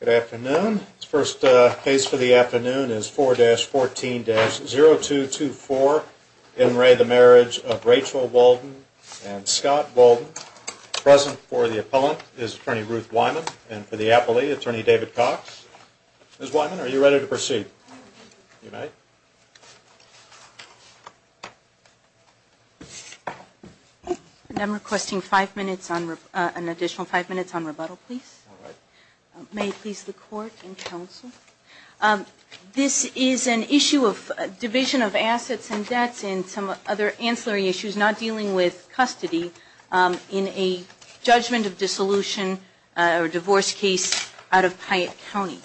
Good afternoon. This first case for the afternoon is 4-14-0224. In re the Marriage of Rachel Walden and Scott Walden. Present for the appellant is Attorney Ruth Wyman and for the appellee, Attorney David Cox. Ms. Wyman, are you ready to proceed? I'm requesting an additional 5 minutes on rebuttal please. May it please the court and counsel. This is an issue of division of assets and debts and some other ancillary issues not dealing with custody in a judgment of dissolution or divorce case out of Piatt County.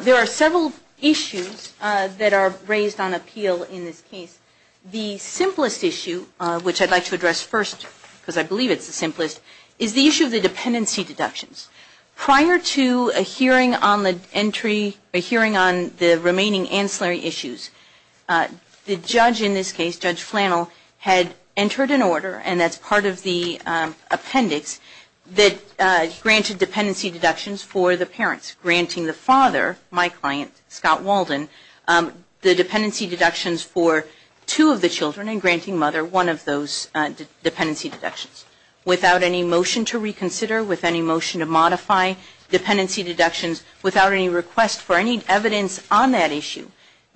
There are several issues that are raised on appeal in this case. The simplest issue, which I'd like to address first because I believe it's the simplest, is the issue of the dependency deductions. Prior to a hearing on the entry, a hearing on the remaining ancillary issues, the judge in this case, Judge Flannel, had entered an order and that's part of the appendix that granted dependency deductions for the parents. Granting the father, my client, Scott Walden, the dependency deductions for two of the children and granting mother one of those dependency deductions. Without any motion to reconsider, with any motion to modify dependency deductions, without any request for any evidence on that issue,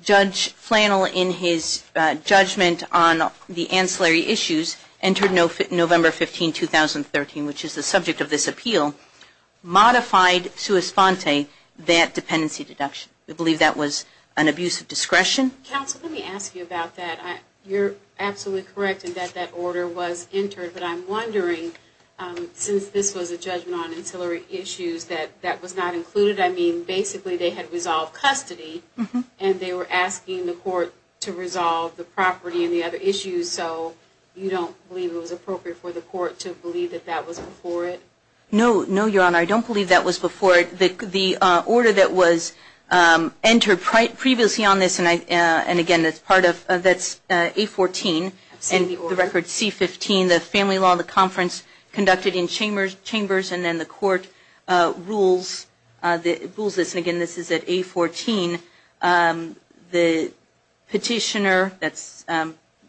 Judge Flannel in his judgment on the ancillary issues entered November 15, 2013, which is the subject of this appeal. Modified sua sponte that dependency deduction. We believe that was an abuse of discretion. Counsel, let me ask you about that. You're absolutely correct in that that order was entered, but I'm wondering, since this was a judgment on ancillary issues, that that was not included? I mean, basically they had resolved custody and they were asking the court to resolve the property and the other issues, so you don't believe it was appropriate for the court to believe that that was before it? No, Your Honor, I don't believe that was before it. The order that was entered previously on this, and again, that's A14 and the record C15, the family law, the conference conducted in chambers and then the court rules this. And again, this is at A14. The petitioner, that's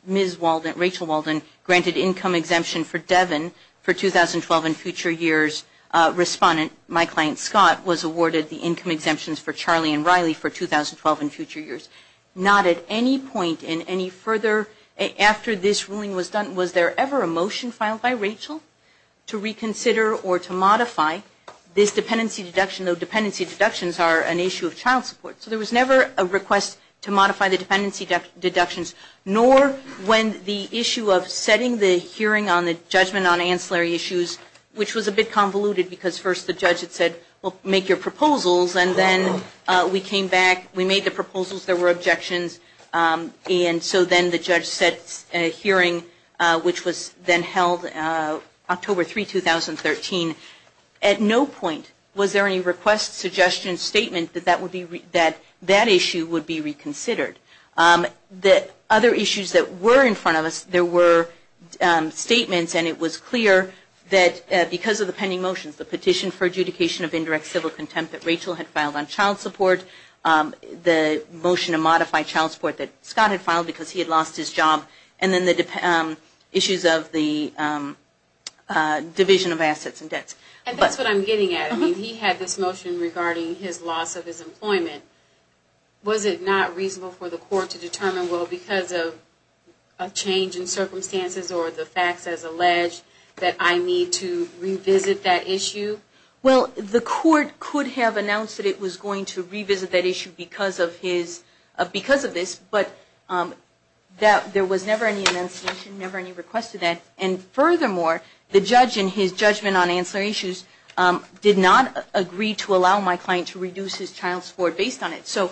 Ms. Walden, Rachel Walden, granted income exemption for Devin for 2012 and future years. Respondent, my client Scott, was awarded the income exemptions for Charlie and Riley for 2012 and future years. Not at any point in any further, after this ruling was done, was there ever a motion filed by Rachel to reconsider or to modify this dependency deduction, though dependency deductions are an issue of child support. There was never a request to modify the dependency deductions, nor when the issue of setting the hearing on the judgment on ancillary issues, which was a bit convoluted because first the judge had said, well, make your proposals, and then we came back, we made the proposals, there were objections, and so then the judge set a hearing, which was then held October 3, 2013. At no point was there any request, suggestion, statement that that issue would be reconsidered. Other issues that were in front of us, there were statements and it was clear that because of the pending motions, the petition for adjudication of indirect civil contempt that Rachel had filed on child support, the motion to modify child support that Scott had filed because he had lost his job, and then the issues of the division of assets and debt collection. And that's what I'm getting at. I mean, he had this motion regarding his loss of his employment. Was it not reasonable for the court to determine, well, because of change in circumstances or the facts as alleged, that I need to revisit that issue? Well, the court could have announced that it was going to revisit that issue because of this, but there was never any request to that. And furthermore, the judge in his judgment on ancillary issues did not agree to allow my client to reduce his child support based on it. So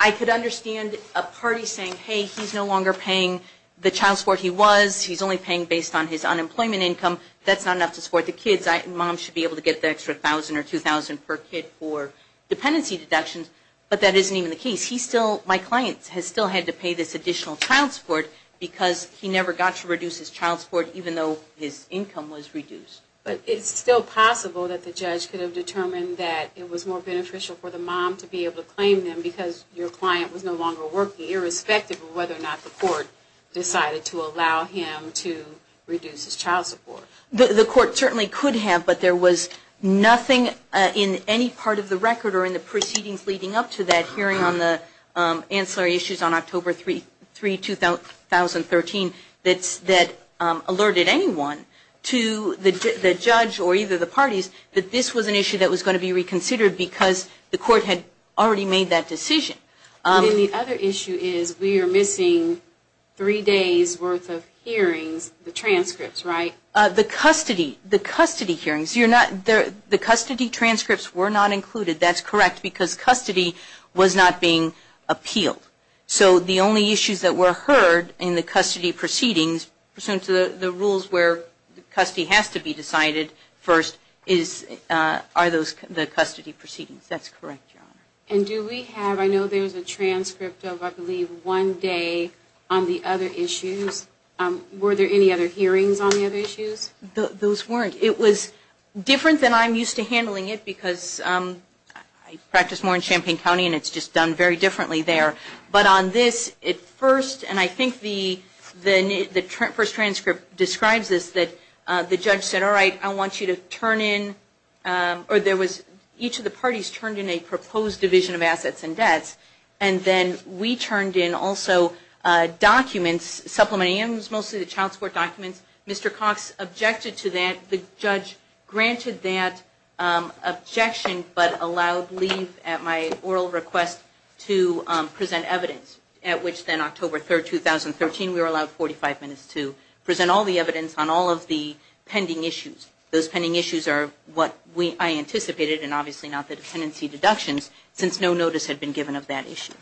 I could understand a party saying, hey, he's no longer paying the child support he was. He's only paying based on his unemployment income. That's not enough to support the kids. Mom should be able to get the extra $1,000 or $2,000 per kid for dependency deductions. But that isn't even the case. He still, my client, has still had to pay this additional child support because he never got to reduce his child support even though his income was reduced. But it's still possible that the judge could have determined that it was more beneficial for the mom to be able to claim them because your client was no longer working, irrespective of whether or not the court decided to allow him to reduce his child support. The court certainly could have, but there was nothing in any part of the record or in the proceedings leading up to that hearing on the ancillary issues on October 3, 2013, that alerted anyone to the judge or either the parties that this was an issue that was going to be reconsidered because the court had already made that decision. And the other issue is we are missing three days' worth of hearings, the transcripts, right? The custody hearings. The custody transcripts were not included. That's correct because custody was not being appealed. So the only issues that were heard in the custody proceedings, pursuant to the rules where custody has to be decided first, are the custody proceedings. That's correct, Your Honor. And do we have, I know there's a transcript of, I believe, one day on the other issues. Were there any other hearings on the other issues? Those weren't. It was different than I'm used to handling it because I practice more in Champaign County and it's just done very differently there. But on this, at first, and I think the first transcript describes this, that the judge said, all right, I want you to turn in, or there was, each of the parties turned in a proposed division of assets and debts. And then we turned in also documents, supplementary, and it was mostly the child support documents. Mr. Cox objected to that. The judge granted that objection but allowed leave at my oral request to present evidence, at which then October 3, 2013, we were allowed 45 minutes to present all the evidence on all of the pending issues. Those pending issues are what I anticipated, and obviously not the tenancy deductions, since no notice had been given of that issue.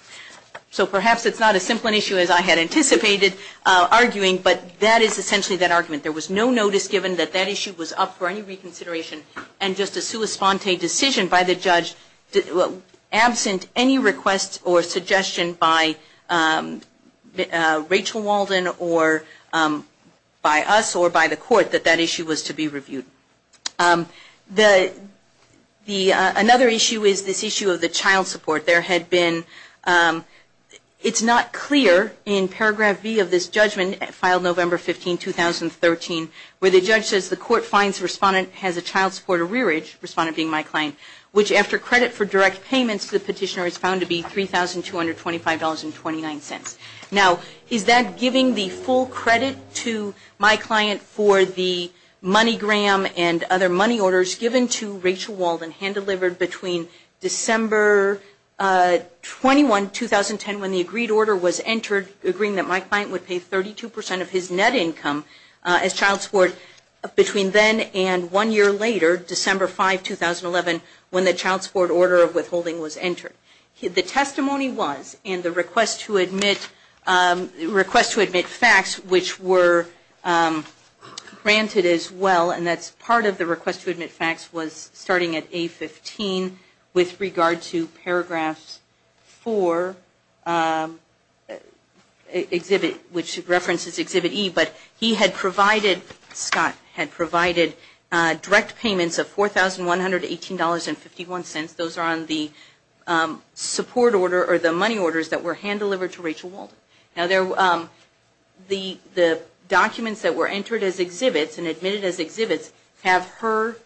So perhaps it's not as simple an issue as I had anticipated, arguing, but that is essentially that argument. There was no notice given that that issue was up for any reconsideration and just a sua sponte decision by the judge, absent any request or suggestion by Rachel Walden or by us or by the court, that that issue was to be reviewed. Another issue is this issue of the child support. There had been, it's not clear in paragraph B of this judgment, filed November 15, 2013, where the judge says the court finds the respondent has a child support arrearage, respondent being my client, which after credit for direct payments to the petitioner is found to be $3,225.29. Now, is that giving the full credit to my client for the money gram and other money orders given to Rachel Walden, hand-delivered between December 21, 2010, when the agreed order was entered, agreeing that my client would pay 32 percent of his net income as child support, between then and one year later, December 5, 2011, when the child support order of withholding was entered? The testimony was, and the request to admit, request to admit facts, which were granted as well, and that's part of the request to admit facts, was starting at A15 with regard to paragraphs 4, exhibit, which references exhibit E, but he had provided, Scott had provided direct payments of $4,118.51. Those are on the support order or the money orders that were hand-delivered to Rachel Walden. Now, the documents that were entered as exhibits and admitted as exhibits have her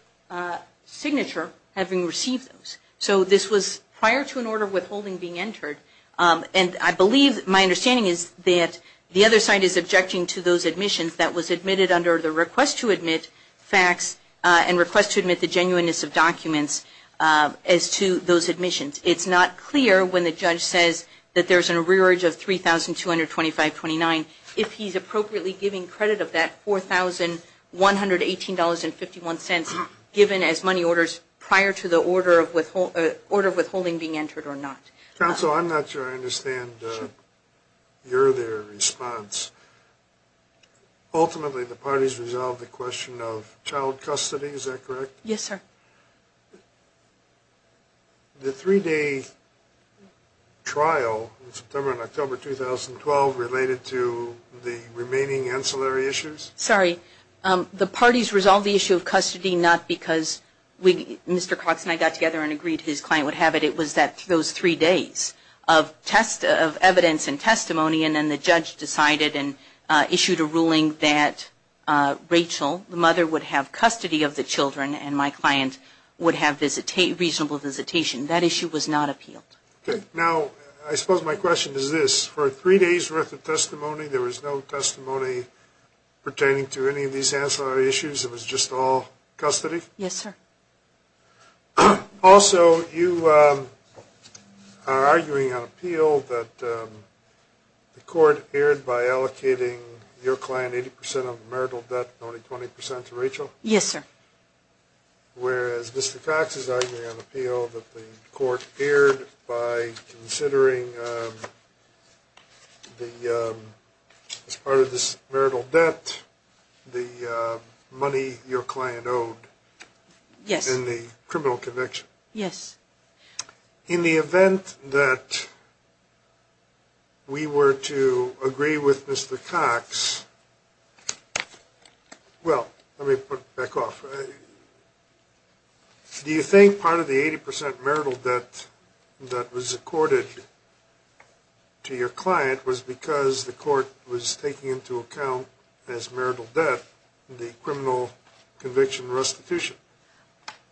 signature having received those. So this was prior to an order of withholding being entered. And I believe, my understanding is that the other side is objecting to those admissions that was admitted under the request to admit facts and request to admit the genuineness of documents as to those admissions. It's not clear when the judge says that there's a rearage of 3,225.29 if he's appropriately giving credit of that $4,118.51 given as money orders prior to the order of withholding being entered or not. Counsel, I'm not sure I understand your response. Ultimately, the parties resolved the question of child custody, is that correct? Yes, sir. The three-day trial in September and October 2012 related to the remaining ancillary issues? The parties resolved the issue of custody not because Mr. Cox and I got together and agreed his client would have it. It was that those three days of evidence and testimony and then the judge decided and issued a ruling that Rachel, the mother, would have custody of the children and my client would have reasonable visitation. That issue was not appealed. Now, I suppose my question is this. For three days' worth of testimony, there was no testimony pertaining to any of these ancillary issues? It was just all custody? Yes, sir. Also, you are arguing on appeal that the court erred by allocating your client 80% of the marital debt and only 20% to Rachel? Yes, sir. Whereas Mr. Cox is arguing on appeal that the court erred by considering, as part of this marital debt, the money your client owed in the criminal conviction? Yes. In the event that we were to agree with Mr. Cox, well, let me put it back off. Do you think part of the 80% marital debt that was accorded to your client was because the court was taking into account as marital debt the criminal conviction restitution?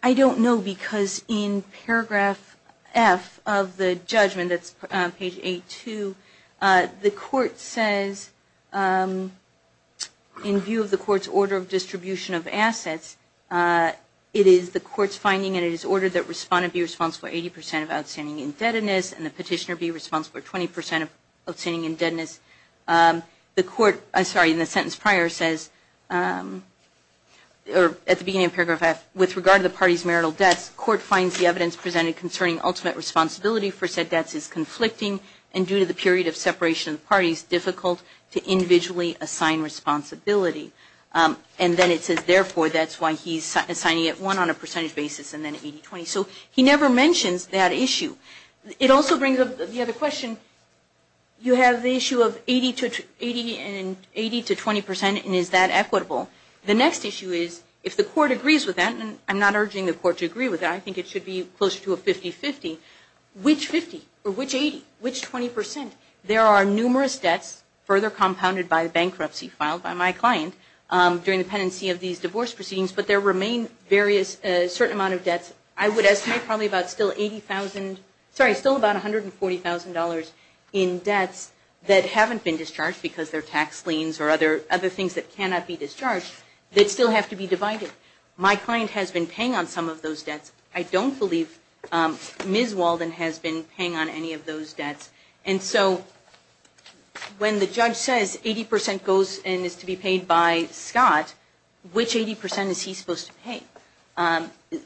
I don't know because in paragraph F of the judgment, that's page 8-2, the court says, in view of the court's order of distribution of assets, it is the court's finding and it is ordered that the respondent be responsible for 80% of outstanding indebtedness and the petitioner be responsible for 20% of outstanding indebtedness. The court, sorry, in the sentence prior says, at the beginning of paragraph F, with regard to the party's marital debts, court finds the evidence presented concerning ultimate responsibility for said debts is conflicting and due to the period of separation of the parties, difficult to individually assign responsibility. And then it says, therefore, that's why he's assigning it one on a percentage basis and then 80-20. So he never mentions that issue. It also brings up the other question, you have the issue of 80-20% and is that equitable? The next issue is, if the court agrees with that, and I'm not urging the court to agree with that, I think it should be closer to a 50-50, which 50 or which 80, which 20%? There are numerous debts further compounded by bankruptcy filed by my client during the pendency of these divorce proceedings, but there remain various, a certain amount of debts. I would estimate probably about still 80,000, sorry, still about $140,000 in debts that haven't been discharged because they're tax liens or other things that cannot be discharged that still have to be divided. My client has been paying on some of those debts. I don't believe Ms. Walden has been paying on any of those debts. And so when the judge says 80% goes and is to be paid by Scott, which 80% is he supposed to pay?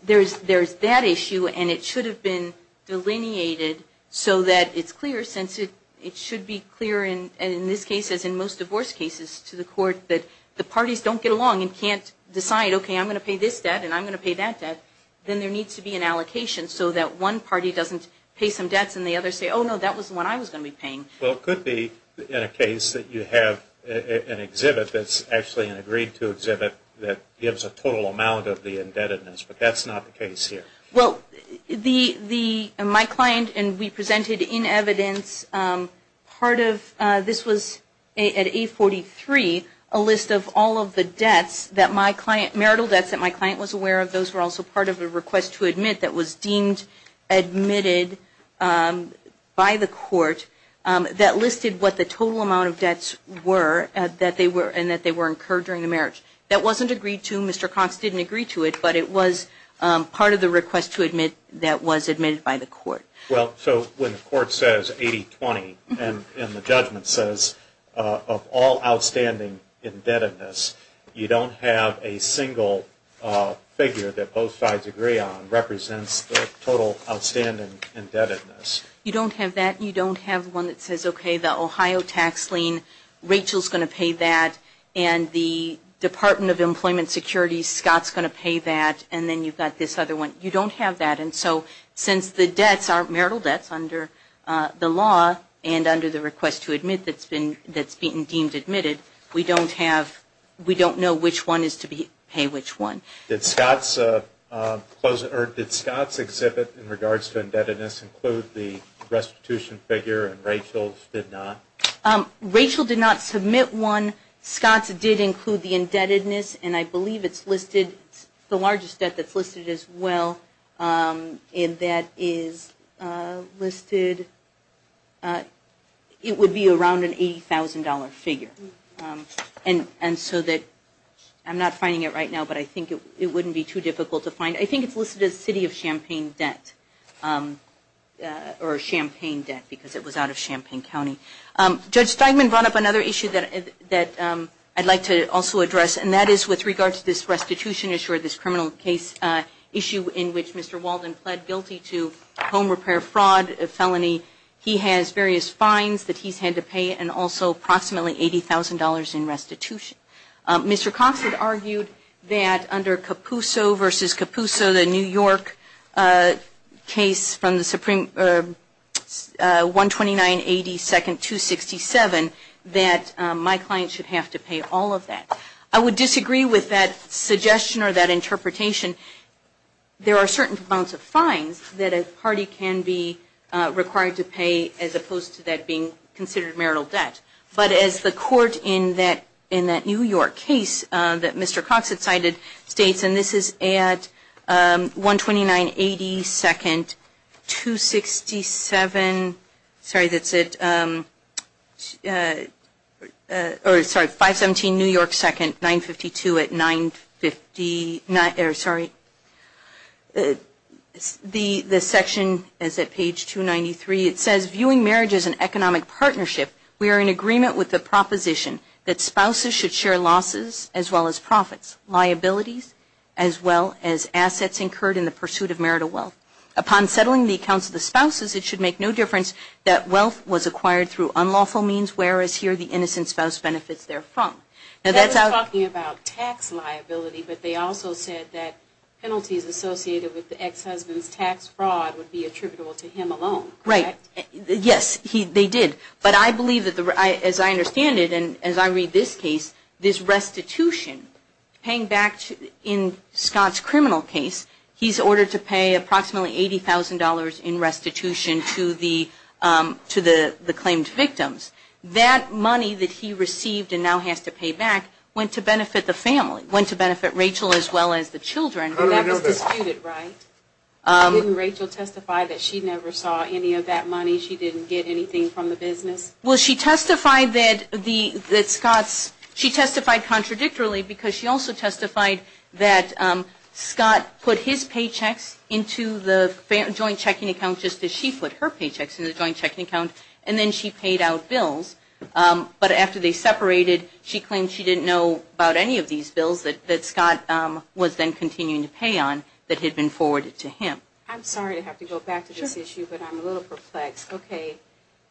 There's that issue and it should have been delineated so that it's clear since it should be clear in this case as in most divorce cases to the court that the parties don't get along and can't decide, okay, I'm going to pay this debt and I'm going to pay that debt, then there needs to be an allocation so that one party doesn't pay some debts and the others say, oh no, that was the one I was going to be paying. Well, it could be in a case that you have an exhibit that's actually an agreed to exhibit that gives a total amount of the indebtedness, but that's not the case here. Well, my client and we presented in evidence part of, this was at 843, a list of all of the debts that my client, marital debts that my client was aware of, those were also part of a request to admit that was deemed admitted by the court, that listed what the total amount of debts were and that they were incurred during the marriage. That wasn't agreed to, Mr. Cox didn't agree to it, but it was part of the request to admit that was admitted by the court. Well, so when the court says 80-20 and the judgment says of all outstanding indebtedness, you don't have a single figure that both sides agree on represents the total outstanding indebtedness. You don't have that, you don't have one that says, okay, the Ohio tax lien, Rachel's going to pay that, and the Department of Employment Security, Scott's going to pay that, and then you've got this other one. You don't have that, and so since the debts aren't marital debts under the law and under the request to admit that's been deemed admitted, we don't have, we don't know which one is to pay which one. Did Scott's exhibit in regards to indebtedness include the restitution figure and Rachel's did not? Rachel did not submit one. Scott's did include the indebtedness, and I believe it's listed, the largest debt that's listed as well, and that is listed, it would be around an $80,000 figure. And so that, I'm not finding it right now, but I think it wouldn't be too difficult to find. I think it's listed as city of Champaign debt or Champaign debt because it was out of Champaign County. Judge Steinman brought up another issue that I'd like to also address, and that is with regard to this restitution issue or this criminal case issue in which Mr. Walden pled guilty to home repair fraud felony. He has various fines that he's had to pay and also approximately $80,000 in restitution. Mr. Cox had argued that under Capuso v. Capuso, the New York case from the Supreme, 12982-267, that my client should have to pay all of that. I would disagree with that suggestion or that interpretation. There are certain amounts of fines that a party can be required to pay as opposed to that being considered marital debt. But as the court in that New York case that Mr. Cox had cited states, and this is at 12982-267, sorry, that's at, or sorry, 517 New York 2nd, 952 at 959, or sorry, the section is at page 293. It says, viewing marriage as an economic partnership, we are in agreement with the proposition that spouses should share losses as well as profits, liabilities as well as assets incurred in the pursuit of marital wealth. Upon settling the accounts of the spouses, it should make no difference that wealth was acquired through unlawful means, whereas here the innocent spouse benefits therefrom. Now that's out. I was talking about tax liability, but they also said that penalties associated with the ex-husband's tax fraud would be attributable to him alone. Right. Yes, they did. But I believe, as I understand it, and as I read this case, this restitution, paying back in Scott's criminal case, he's ordered to pay approximately $80,000 in restitution to the claimed victims. That money that he received and now has to pay back went to benefit the family, went to benefit Rachel as well as the children. And that was disputed, right? Didn't Rachel testify that she never saw any of that money? She didn't get anything from the business? Well, she testified that Scott's, she testified contradictorily because she also testified that Scott put his paychecks into the joint checking account just as she put her paychecks in the joint checking account, and then she paid out bills. But after they separated, she claimed she didn't know about any of these bills that Scott was then continuing to pay on that had been forwarded to him. I'm sorry to have to go back to this issue, but I'm a little perplexed. Okay.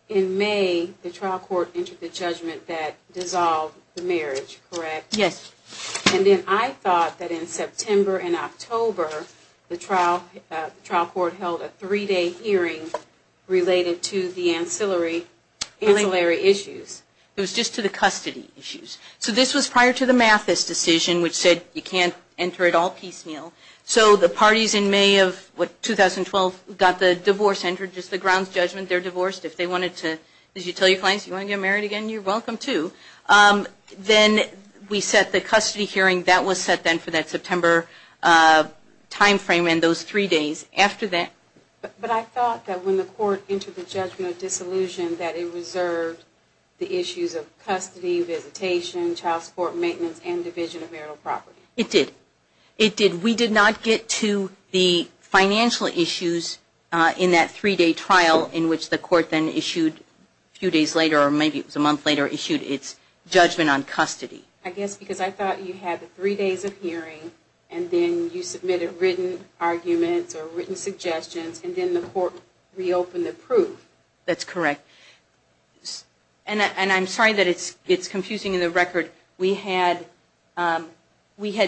In May, the trial court entered the judgment that dissolved the marriage, correct? Yes. And then I thought that in September and October, the trial court held a three-day hearing related to the ancillary issue. It was just to the custody issues. So this was prior to the Mathis decision, which said you can't enter it all piecemeal. So the parties in May of, what, 2012 got the divorce entered, just the grounds judgment, they're divorced. If they wanted to, as you tell your clients, you want to get married again, you're welcome to. Then we set the custody hearing. That was set then for that September timeframe and those three days. But I thought that when the court entered the judgment of dissolution that it reserved the issues of custody, visitation, child support, maintenance, and division of marital property. It did. It did. We did not get to the financial issues in that three-day trial in which the court then issued a few days later, or maybe it was a month later, issued its judgment on custody. I guess because I thought you had the three days of hearing and then you submitted written arguments or written suggestions and then the court reopened the proof. That's correct. And I'm sorry that it's confusing in the record. We had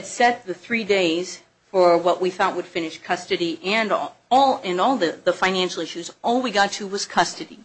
set the three days for what we thought would finish custody and all the financial issues. All we got to was custody.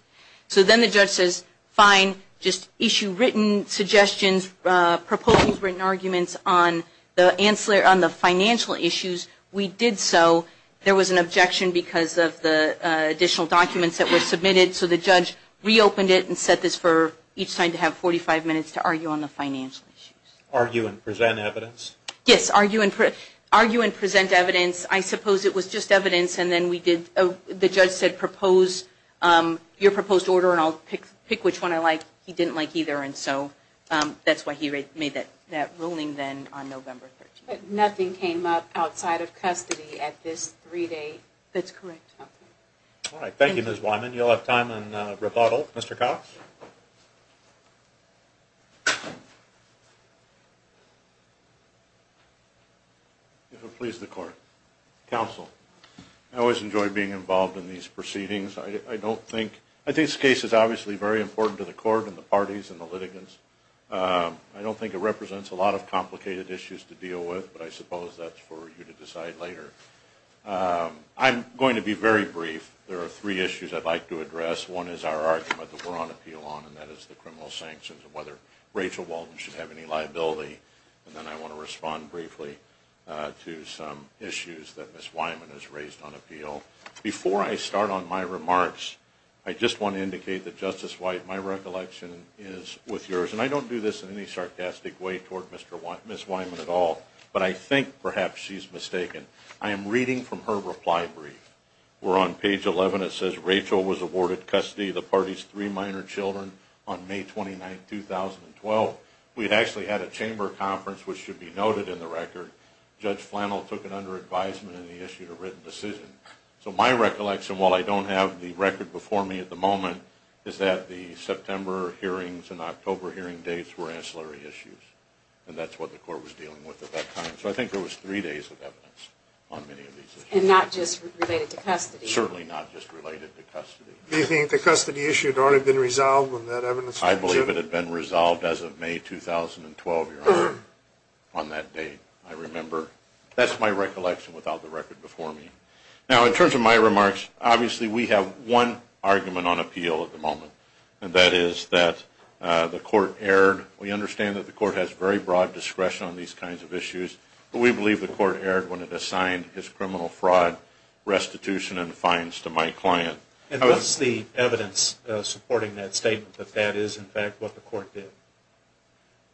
So then the judge says, fine, just issue written suggestions, proposals, written arguments on the financial issues. We did so. There was an objection because of the additional documents that were submitted. So the judge reopened it and set this for each side to have 45 minutes to argue on the financial issues. Argue and present evidence? Yes, argue and present evidence. I suppose it was just evidence. The judge said propose your proposed order and I'll pick which one I like. He didn't like either and so that's why he made that ruling then on November 13th. But nothing came up outside of custody at this three-day? That's correct. All right. Thank you, Ms. Wyman. You'll have time in rebuttal. Mr. Cox? If it pleases the court. Counsel, I always enjoy being involved in these proceedings. I think this case is obviously very important to the court and the parties and the litigants. I don't think it represents a lot of complicated issues to deal with, but I suppose that's for you to decide later. I'm going to be very brief. There are three issues I'd like to address. One is our argument that we're on appeal on and that is the criminal sanctions and whether Rachel Walden should have any liability. And then I want to respond briefly to some issues that Ms. Wyman has raised on appeal. Before I start on my remarks, I just want to indicate that, Justice White, my recollection is with yours, and I don't do this in any sarcastic way toward Ms. Wyman at all, but I think perhaps she's mistaken. I am reading from her reply brief. We're on page 11. It says, Rachel was awarded custody of the party's three minor children on May 29, 2012. We actually had a chamber conference, which should be noted in the record. Judge Flannel took it under advisement and he issued a written decision. So my recollection, while I don't have the record before me at the moment, is that the September hearings and October hearing dates were ancillary issues, and that's what the court was dealing with at that time. So I think there was three days of evidence on many of these issues. And not just related to custody. Certainly not just related to custody. Do you think the custody issue had already been resolved when that evidence was issued? I believe it had been resolved as of May 2012, Your Honor, on that date, I remember. That's my recollection without the record before me. Now, in terms of my remarks, obviously we have one argument on appeal at the moment, and that is that the court erred. We understand that the court has very broad discretion on these kinds of issues, but we believe the court erred when it assigned its criminal fraud restitution and fines to my client. And what's the evidence supporting that statement, that that is, in fact, what the court did?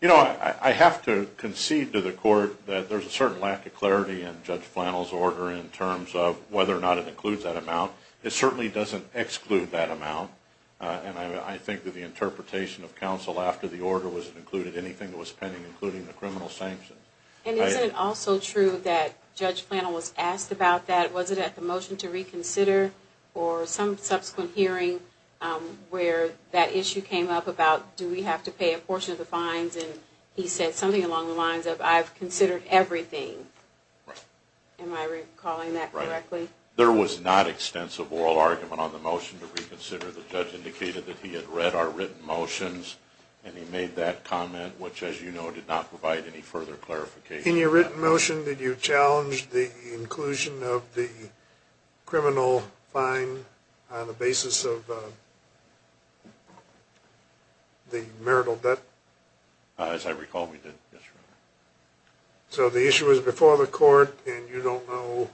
You know, I have to concede to the court that there's a certain lack of clarity in Judge Flannel's order in terms of whether or not it includes that amount. It certainly doesn't exclude that amount, and I think that the interpretation of counsel after the order was that it included anything that was pending, including the criminal sanctions. And isn't it also true that Judge Flannel was asked about that? Was it at the motion to reconsider or some subsequent hearing where that issue came up about, do we have to pay a portion of the fines? And he said something along the lines of, I've considered everything. Am I recalling that correctly? There was not extensive oral argument on the motion to reconsider. The judge indicated that he had read our written motions, and he made that comment, which, as you know, did not provide any further clarification. In your written motion, did you challenge the inclusion of the criminal fine on the basis of the marital debt? As I recall, we did, yes, Your Honor. So the issue was before the court, and you don't know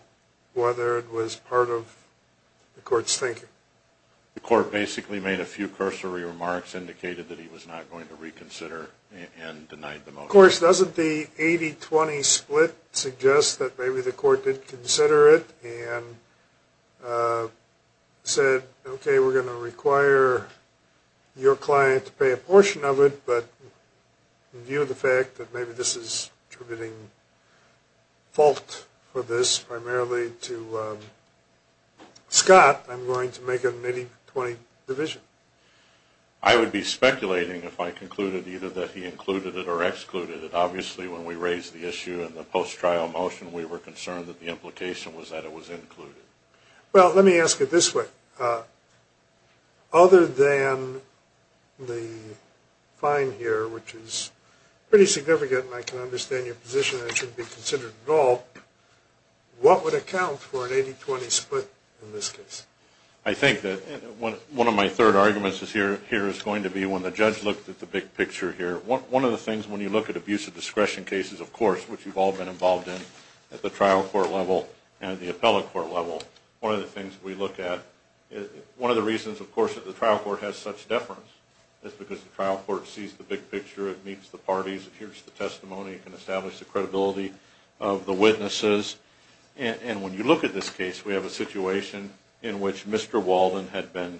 whether it was part of the court's thinking? The court basically made a few cursory remarks, indicated that he was not going to reconsider, and denied the motion. Of course, doesn't the 80-20 split suggest that maybe the court did consider it and said, okay, we're going to require your client to pay a portion of it, but in view of the fact that maybe this is attributing fault for this primarily to Scott, I'm going to make an 80-20 division. I would be speculating if I concluded either that he included it or excluded it. Obviously, when we raised the issue in the post-trial motion, we were concerned that the implication was that it was included. Well, let me ask it this way. Other than the fine here, which is pretty significant, and I can understand your position that it shouldn't be considered at all, what would account for an 80-20 split in this case? I think that one of my third arguments here is going to be when the judge looked at the big picture here. One of the things when you look at abuse of discretion cases, of course, which you've all been involved in at the trial court level and the appellate court level, one of the things we look at is one of the reasons, of course, that the trial court has such deference is because the trial court sees the big picture. It meets the parties. It hears the testimony. It can establish the credibility of the witnesses. And when you look at this case, we have a situation in which Mr. Walden had been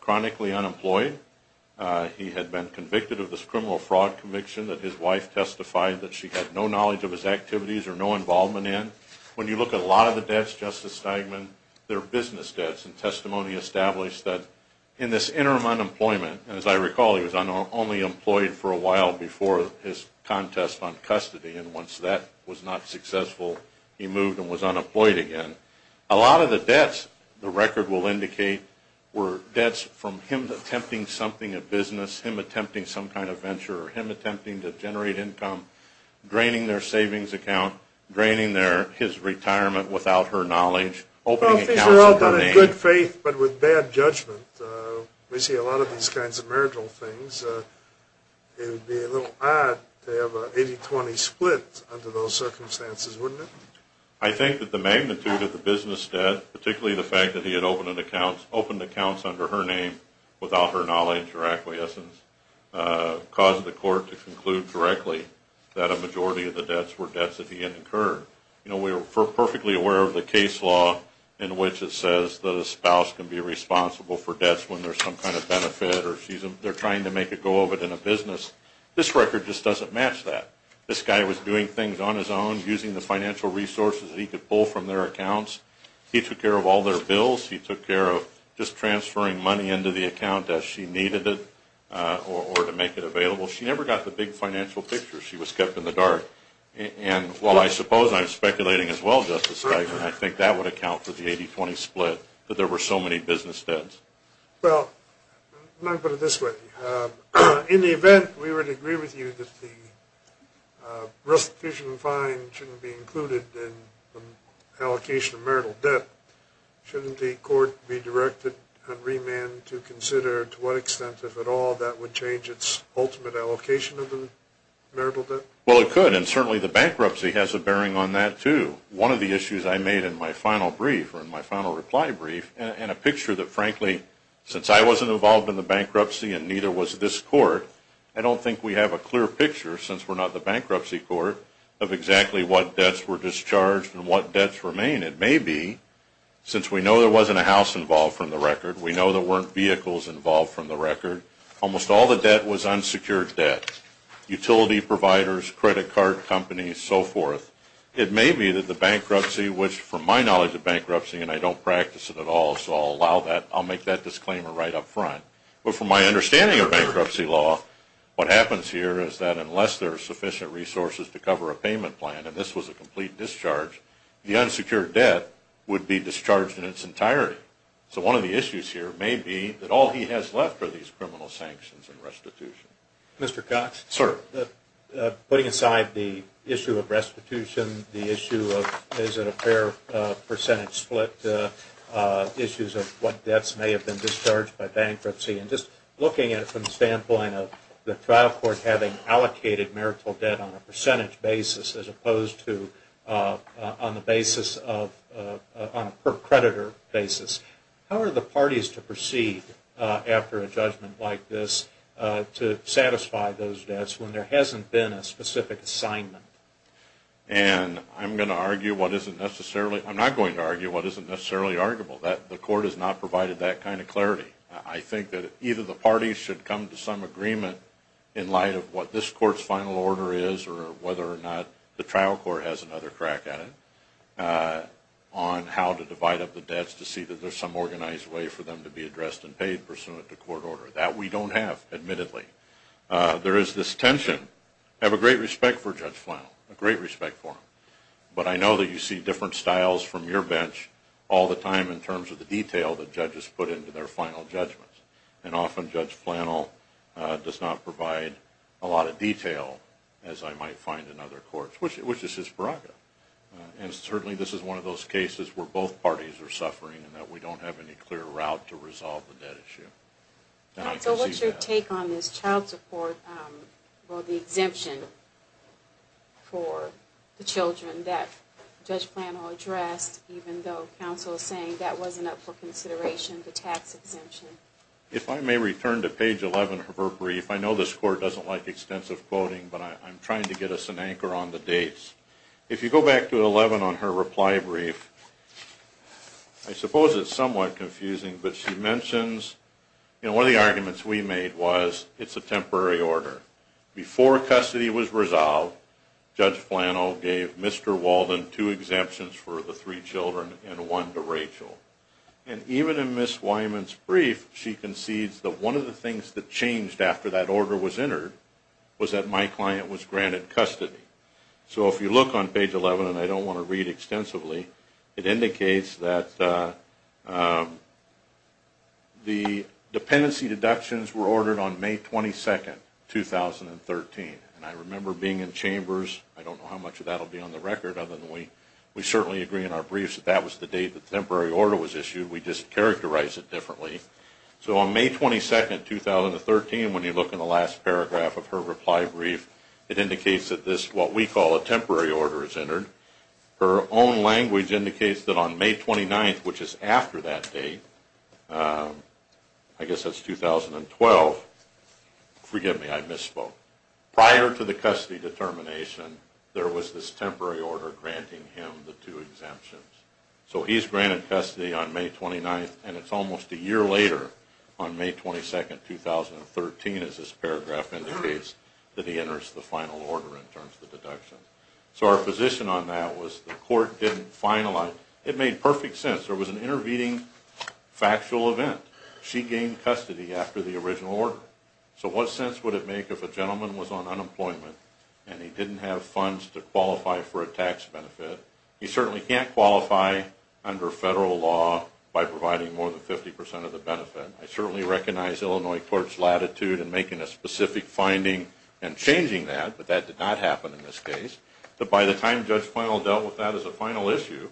chronically unemployed. He had been convicted of this criminal fraud conviction that his wife testified that she had no knowledge of his activities or no involvement in. When you look at a lot of the debts, Justice Steigman, they're business debts. And testimony established that in this interim unemployment, and as I recall, he was only employed for a while before his contest on custody. And once that was not successful, he moved and was unemployed again. A lot of the debts, the record will indicate, were debts from him attempting something of business, him attempting some kind of venture, or him attempting to generate income, draining their savings account, draining his retirement without her knowledge. Well, if these were all done in good faith but with bad judgment, we see a lot of these kinds of marital things, it would be a little odd to have an 80-20 split under those circumstances, wouldn't it? I think that the magnitude of the business debt, particularly the fact that he had opened accounts under her name without her knowledge or acquiescence, caused the court to conclude directly that a majority of the debts were debts that he had incurred. We're perfectly aware of the case law in which it says that a spouse can be responsible for debts when there's some kind of benefit or they're trying to make a go of it in a business. This record just doesn't match that. This guy was doing things on his own, using the financial resources that he could pull from their accounts. He took care of all their bills. He took care of just transferring money into the account as she needed it or to make it available. She never got the big financial picture. She was kept in the dark. And while I suppose I'm speculating as well, Justice Steigman, I think that would account for the 80-20 split, that there were so many business debts. Well, I'm going to put it this way. In the event we were to agree with you that the restitution fine shouldn't be included in the allocation of marital debt, shouldn't the court be directed on remand to consider to what extent, if at all, that would change its ultimate allocation of the marital debt? Well, it could, and certainly the bankruptcy has a bearing on that, too. One of the issues I made in my final brief, or in my final reply brief, and a picture that, frankly, since I wasn't involved in the bankruptcy and neither was this court, I don't think we have a clear picture, since we're not the bankruptcy court, of exactly what debts were discharged and what debts remain. It may be, since we know there wasn't a house involved from the record, we know there weren't vehicles involved from the record, almost all the debt was unsecured debt. Utility providers, credit card companies, so forth. It may be that the bankruptcy, which from my knowledge of bankruptcy, and I don't practice it at all, so I'll make that disclaimer right up front, but from my understanding of bankruptcy law, what happens here is that unless there are sufficient resources to cover a payment plan, and this was a complete discharge, the unsecured debt would be discharged in its entirety. So one of the issues here may be that all he has left are these criminal sanctions and restitution. Mr. Cox? Sir? Putting aside the issue of restitution, the issue of is it a fair percentage split, issues of what debts may have been discharged by bankruptcy, and just looking at it from the standpoint of the trial court having allocated marital debt on a percentage basis as opposed to on a per-creditor basis, how are the parties to proceed after a judgment like this to satisfy those debts when there hasn't been a specific assignment? And I'm not going to argue what isn't necessarily arguable. The court has not provided that kind of clarity. I think that either the parties should come to some agreement in light of what this court's final order is or whether or not the trial court has another crack at it on how to divide up the debts to see that there's some organized way for them to be addressed and paid pursuant to court order. That we don't have, admittedly. There is this tension. I have a great respect for Judge Flannel, a great respect for him, but I know that you see different styles from your bench all the time in terms of the detail that judges put into their final judgments, and often Judge Flannel does not provide a lot of detail, as I might find in other courts, which is his prerogative. And certainly this is one of those cases where both parties are suffering and that we don't have any clear route to resolve the debt issue. So what's your take on this child support, or the exemption for the children that Judge Flannel addressed, even though counsel is saying that wasn't up for consideration, the tax exemption? If I may return to page 11 of her brief, I know this court doesn't like extensive quoting, but I'm trying to get us an anchor on the dates. If you go back to 11 on her reply brief, I suppose it's somewhat confusing, but she mentions, you know, one of the arguments we made was it's a temporary order. Before custody was resolved, Judge Flannel gave Mr. Walden two exemptions for the three children and one to Rachel. And even in Ms. Wyman's brief, she concedes that one of the things that changed after that order was entered was that my client was granted custody. So if you look on page 11, and I don't want to read extensively, it indicates that the dependency deductions were ordered on May 22, 2013. And I remember being in chambers. I don't know how much of that will be on the record, other than we certainly agree in our briefs that that was the date the temporary order was issued. We just characterize it differently. So on May 22, 2013, when you look in the last paragraph of her reply brief, her own language indicates that on May 29, which is after that date, I guess that's 2012, forgive me, I misspoke. Prior to the custody determination, there was this temporary order granting him the two exemptions. So he's granted custody on May 29, and it's almost a year later on May 22, 2013, as this paragraph indicates, that he enters the final order in terms of the deductions. So our position on that was the court didn't finalize. It made perfect sense. There was an intervening factual event. She gained custody after the original order. So what sense would it make if a gentleman was on unemployment and he didn't have funds to qualify for a tax benefit? He certainly can't qualify under federal law by providing more than 50% of the benefit. I certainly recognize Illinois court's latitude in making a specific finding and changing that, but that did not happen in this case. But by the time Judge Final dealt with that as a final issue,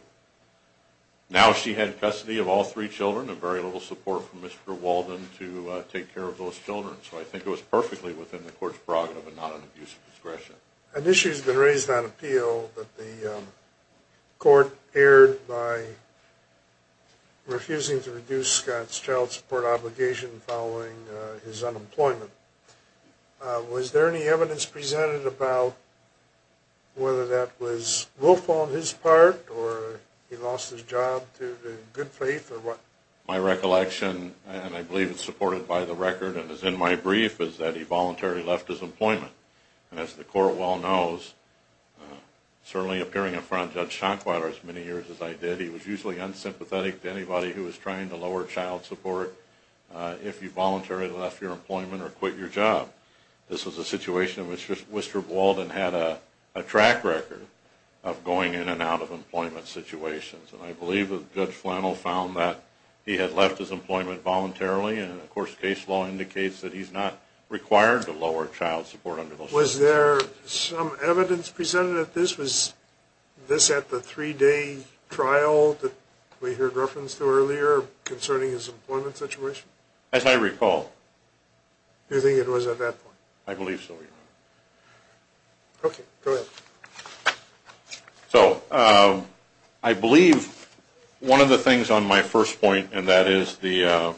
now she had custody of all three children and very little support from Mr. Walden to take care of those children. So I think it was perfectly within the court's prerogative and not an abuse of discretion. An issue has been raised on appeal that the court aired by refusing to reduce Scott's child support obligation following his unemployment. Was there any evidence presented about whether that was willful on his part or he lost his job due to good faith or what? My recollection, and I believe it's supported by the record and is in my brief, is that he voluntarily left his employment. And as the court well knows, certainly appearing in front of Judge Schanquiler as many years as I did, he was usually unsympathetic to anybody who was trying to lower child support. If you voluntarily left your employment or quit your job. This was a situation in which Mr. Walden had a track record of going in and out of employment situations. And I believe that Judge Flannel found that he had left his employment voluntarily and of course case law indicates that he's not required to lower child support under those circumstances. Was there some evidence presented that this was this at the three-day trial that we heard reference to earlier concerning his employment situation? As I recall. Do you think it was at that point? I believe so, Your Honor. Okay, go ahead. So, I believe one of the things on my first point, and that is the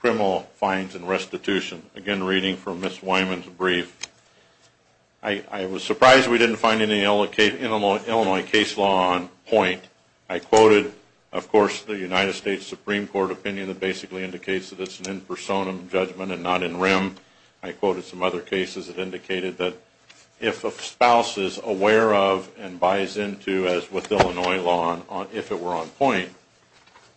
criminal fines and restitution. Again, reading from Ms. Wyman's brief. I was surprised we didn't find any Illinois case law on point. I quoted, of course, the United States Supreme Court opinion that basically indicates that it's an in personam judgment and not in rem. I quoted some other cases that indicated that if a spouse is aware of and buys into, as with Illinois law, if it were on point,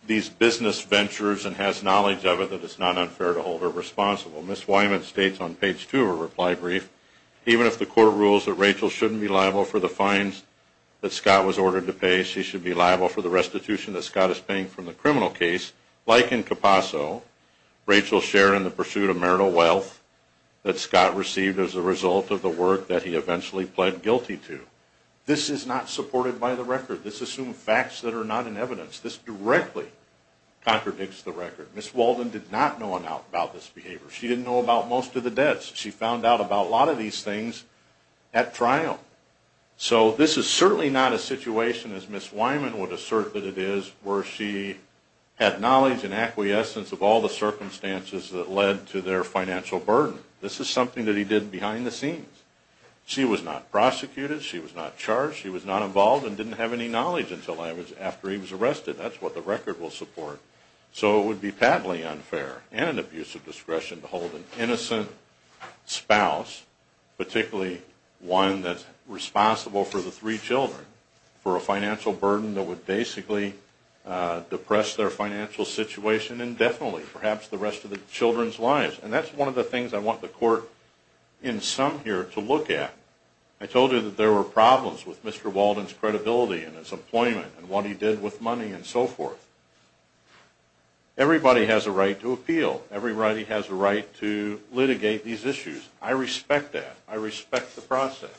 these business ventures and has knowledge of it that it's not unfair to hold her responsible. Ms. Wyman states on page two of her reply brief, even if the court rules that Rachel shouldn't be liable for the fines that Scott was ordered to pay, she should be liable for the restitution that Scott is paying from the criminal case. Like in Capasso, Rachel shared in the pursuit of marital wealth that Scott received as a result of the work that he eventually pled guilty to. This is not supported by the record. This assumes facts that are not in evidence. This directly contradicts the record. Ms. Walden did not know about this behavior. She didn't know about most of the debts. She found out about a lot of these things at trial. So this is certainly not a situation, as Ms. Wyman would assert that it is, where she had knowledge and acquiescence of all the circumstances that led to their financial burden. This is something that he did behind the scenes. She was not prosecuted. She was not charged. She was not involved and didn't have any knowledge until after he was arrested. That's what the record will support. So it would be patently unfair and an abuse of discretion to hold an innocent spouse, particularly one that's responsible for the three children, for a financial burden that would basically depress their financial situation indefinitely, perhaps the rest of the children's lives. And that's one of the things I want the court in sum here to look at. I told you that there were problems with Mr. Walden's credibility and his employment and what he did with money and so forth. Everybody has a right to appeal. Everybody has a right to litigate these issues. I respect that. I respect the process.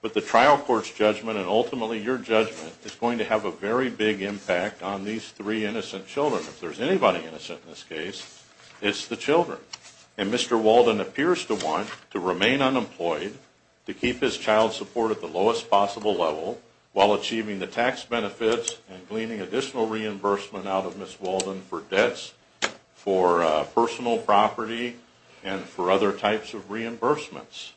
But the trial court's judgment and ultimately your judgment is going to have a very big impact on these three innocent children. If there's anybody innocent in this case, it's the children. And Mr. Walden appears to want to remain unemployed, to keep his child support at the lowest possible level while achieving the tax benefits and gleaning additional reimbursement out of Ms. Walden for debts, for personal property, and for other types of reimbursements.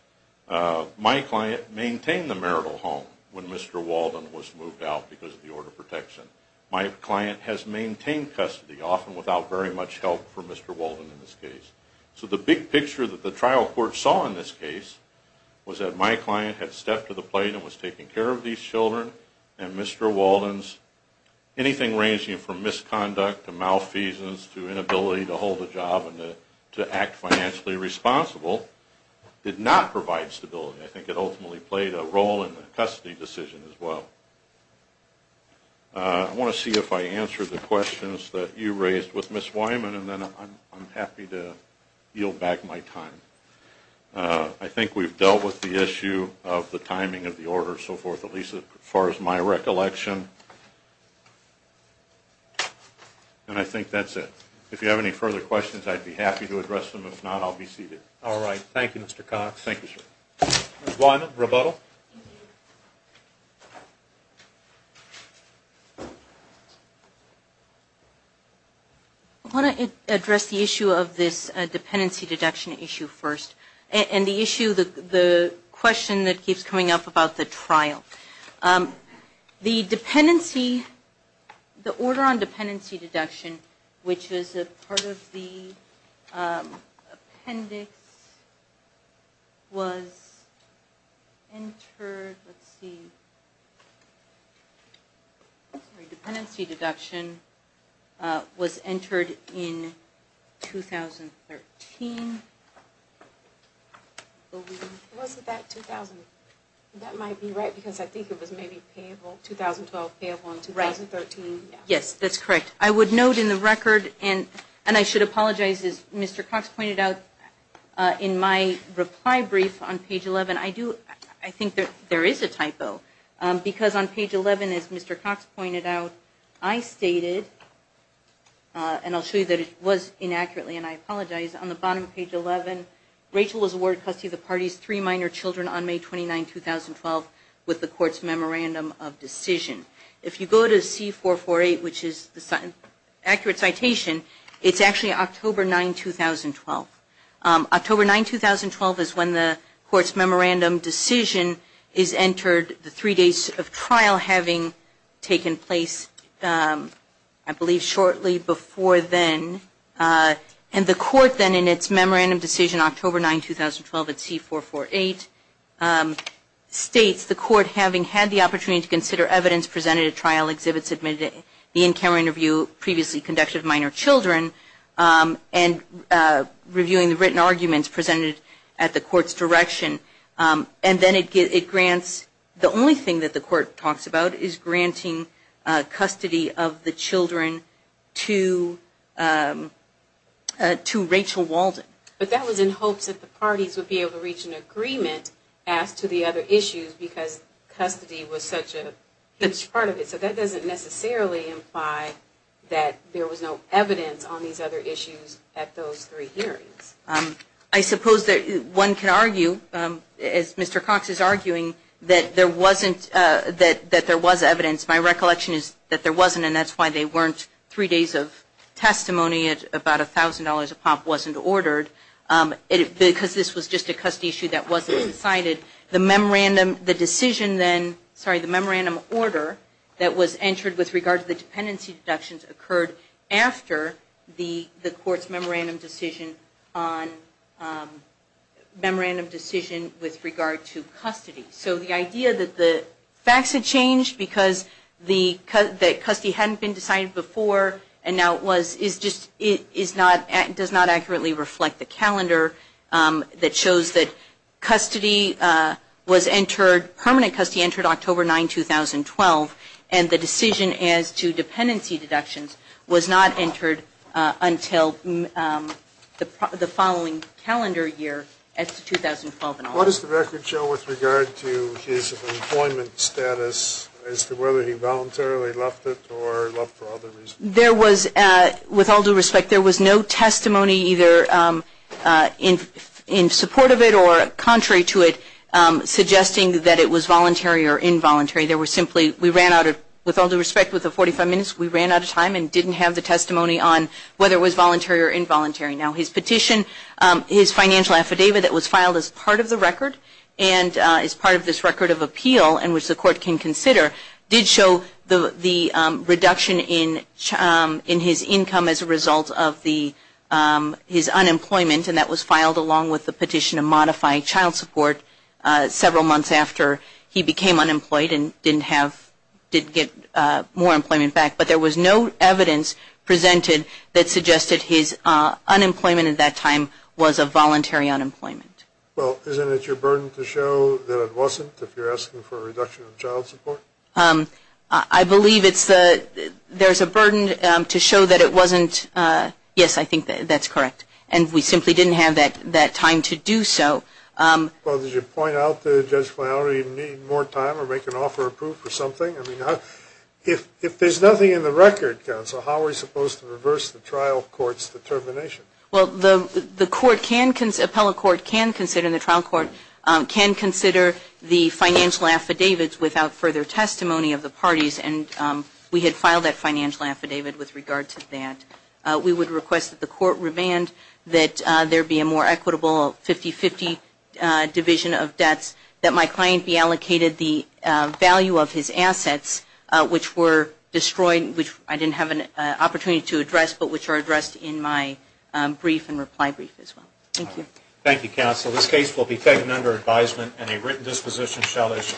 My client maintained the marital home when Mr. Walden was moved out because of the order of protection. My client has maintained custody, often without very much help from Mr. Walden in this case. So the big picture that the trial court saw in this case was that my client had stepped to the plate and was taking care of these children, and Mr. Walden's anything ranging from misconduct to malfeasance to inability to hold a job and to act financially responsible did not provide stability. I think it ultimately played a role in the custody decision as well. I want to see if I answered the questions that you raised with Ms. Wyman, and then I'm happy to yield back my time. I think we've dealt with the issue of the timing of the order and so forth, at least as far as my recollection. And I think that's it. If you have any further questions, I'd be happy to address them. If not, I'll be seated. All right. Thank you, Mr. Cox. Thank you, sir. Ms. Wyman, rebuttal. Thank you. I want to address the issue of this dependency deduction issue first, and the issue, the question that keeps coming up about the trial. The dependency, the order on dependency deduction, which is a part of the appendix, was entered, let's see, sorry, dependency deduction was entered in 2013. Was it that 2000? That might be right, because I think it was maybe payable, 2012 payable in 2013. Yes, that's correct. I would note in the record, and I should apologize, as Mr. Cox pointed out, in my reply brief on page 11, I do, I think there is a typo, because on page 11, as Mr. Cox pointed out, I stated, and I'll show you that it was inaccurately, and I apologize, on the bottom of page 11, Rachel was awarded custody of the party's three minor children on May 29, 2012, with the court's memorandum of decision. If you go to C448, which is the accurate citation, it's actually October 9, 2012. October 9, 2012 is when the court's memorandum decision is entered, the three days of trial having taken place, I believe, shortly before then. And the court then, in its memorandum decision, October 9, 2012, at C448, states the court having had the opportunity to consider evidence presented at trial exhibits the in-camera interview previously conducted of minor children and reviewing the written arguments presented at the court's direction. And then it grants, the only thing that the court talks about is granting custody of the children to Rachel Walden. But that was in hopes that the parties would be able to reach an agreement as to the other issues, because custody was such a huge part of it. So that doesn't necessarily imply that there was no evidence on these other issues at those three hearings. I suppose that one can argue, as Mr. Cox is arguing, that there wasn't, that there was evidence. My recollection is that there wasn't, and that's why they weren't three days of testimony at about $1,000 a pop wasn't ordered, because this was just a custody issue that wasn't cited. The memorandum, the decision then, sorry, the memorandum order that was entered with regard to the dependency deductions occurred after the court's memorandum decision on, memorandum decision with regard to custody. So the idea that the facts had changed because the, that custody hadn't been decided before and now it was, is just, it is not, does not accurately reflect the calendar that shows that custody was entered, permanent custody entered October 9, 2012, and the decision as to dependency deductions was not entered until the following calendar year, as to 2012 and on. What does the record show with regard to his employment status as to whether he voluntarily left it or left for other reasons? There was, with all due respect, there was no testimony either in support of it or contrary to it suggesting that it was voluntary or involuntary. There was simply, we ran out of, with all due respect, with the 45 minutes, we ran out of time and didn't have the testimony on whether it was voluntary or involuntary. Now his petition, his financial affidavit that was filed as part of the record and as part of this record of appeal and which the court can consider did show the reduction in his income as a result of the, his unemployment and that was filed along with the petition to modify child support several months after he presented that suggested his unemployment at that time was a voluntary unemployment. Well, isn't it your burden to show that it wasn't if you're asking for a reduction in child support? I believe it's the, there's a burden to show that it wasn't, yes, I think that's correct. And we simply didn't have that time to do so. Well, did you point out that Judge Flannery needed more time or make an offer of proof or something? I mean, if there's nothing in the record, Counsel, how are we supposed to reverse the trial court's determination? Well, the court can, the appellate court can consider, the trial court can consider the financial affidavits without further testimony of the parties and we had filed that financial affidavit with regard to that. We would request that the court revand that there be a more equitable 50-50 division of debts, that my client be allocated the value of his assets, which were destroyed, which I didn't have an opportunity to address, but which are addressed in my brief and reply brief as well. Thank you. Thank you, Counsel. This case will be taken under advisement and a written disposition shall issue.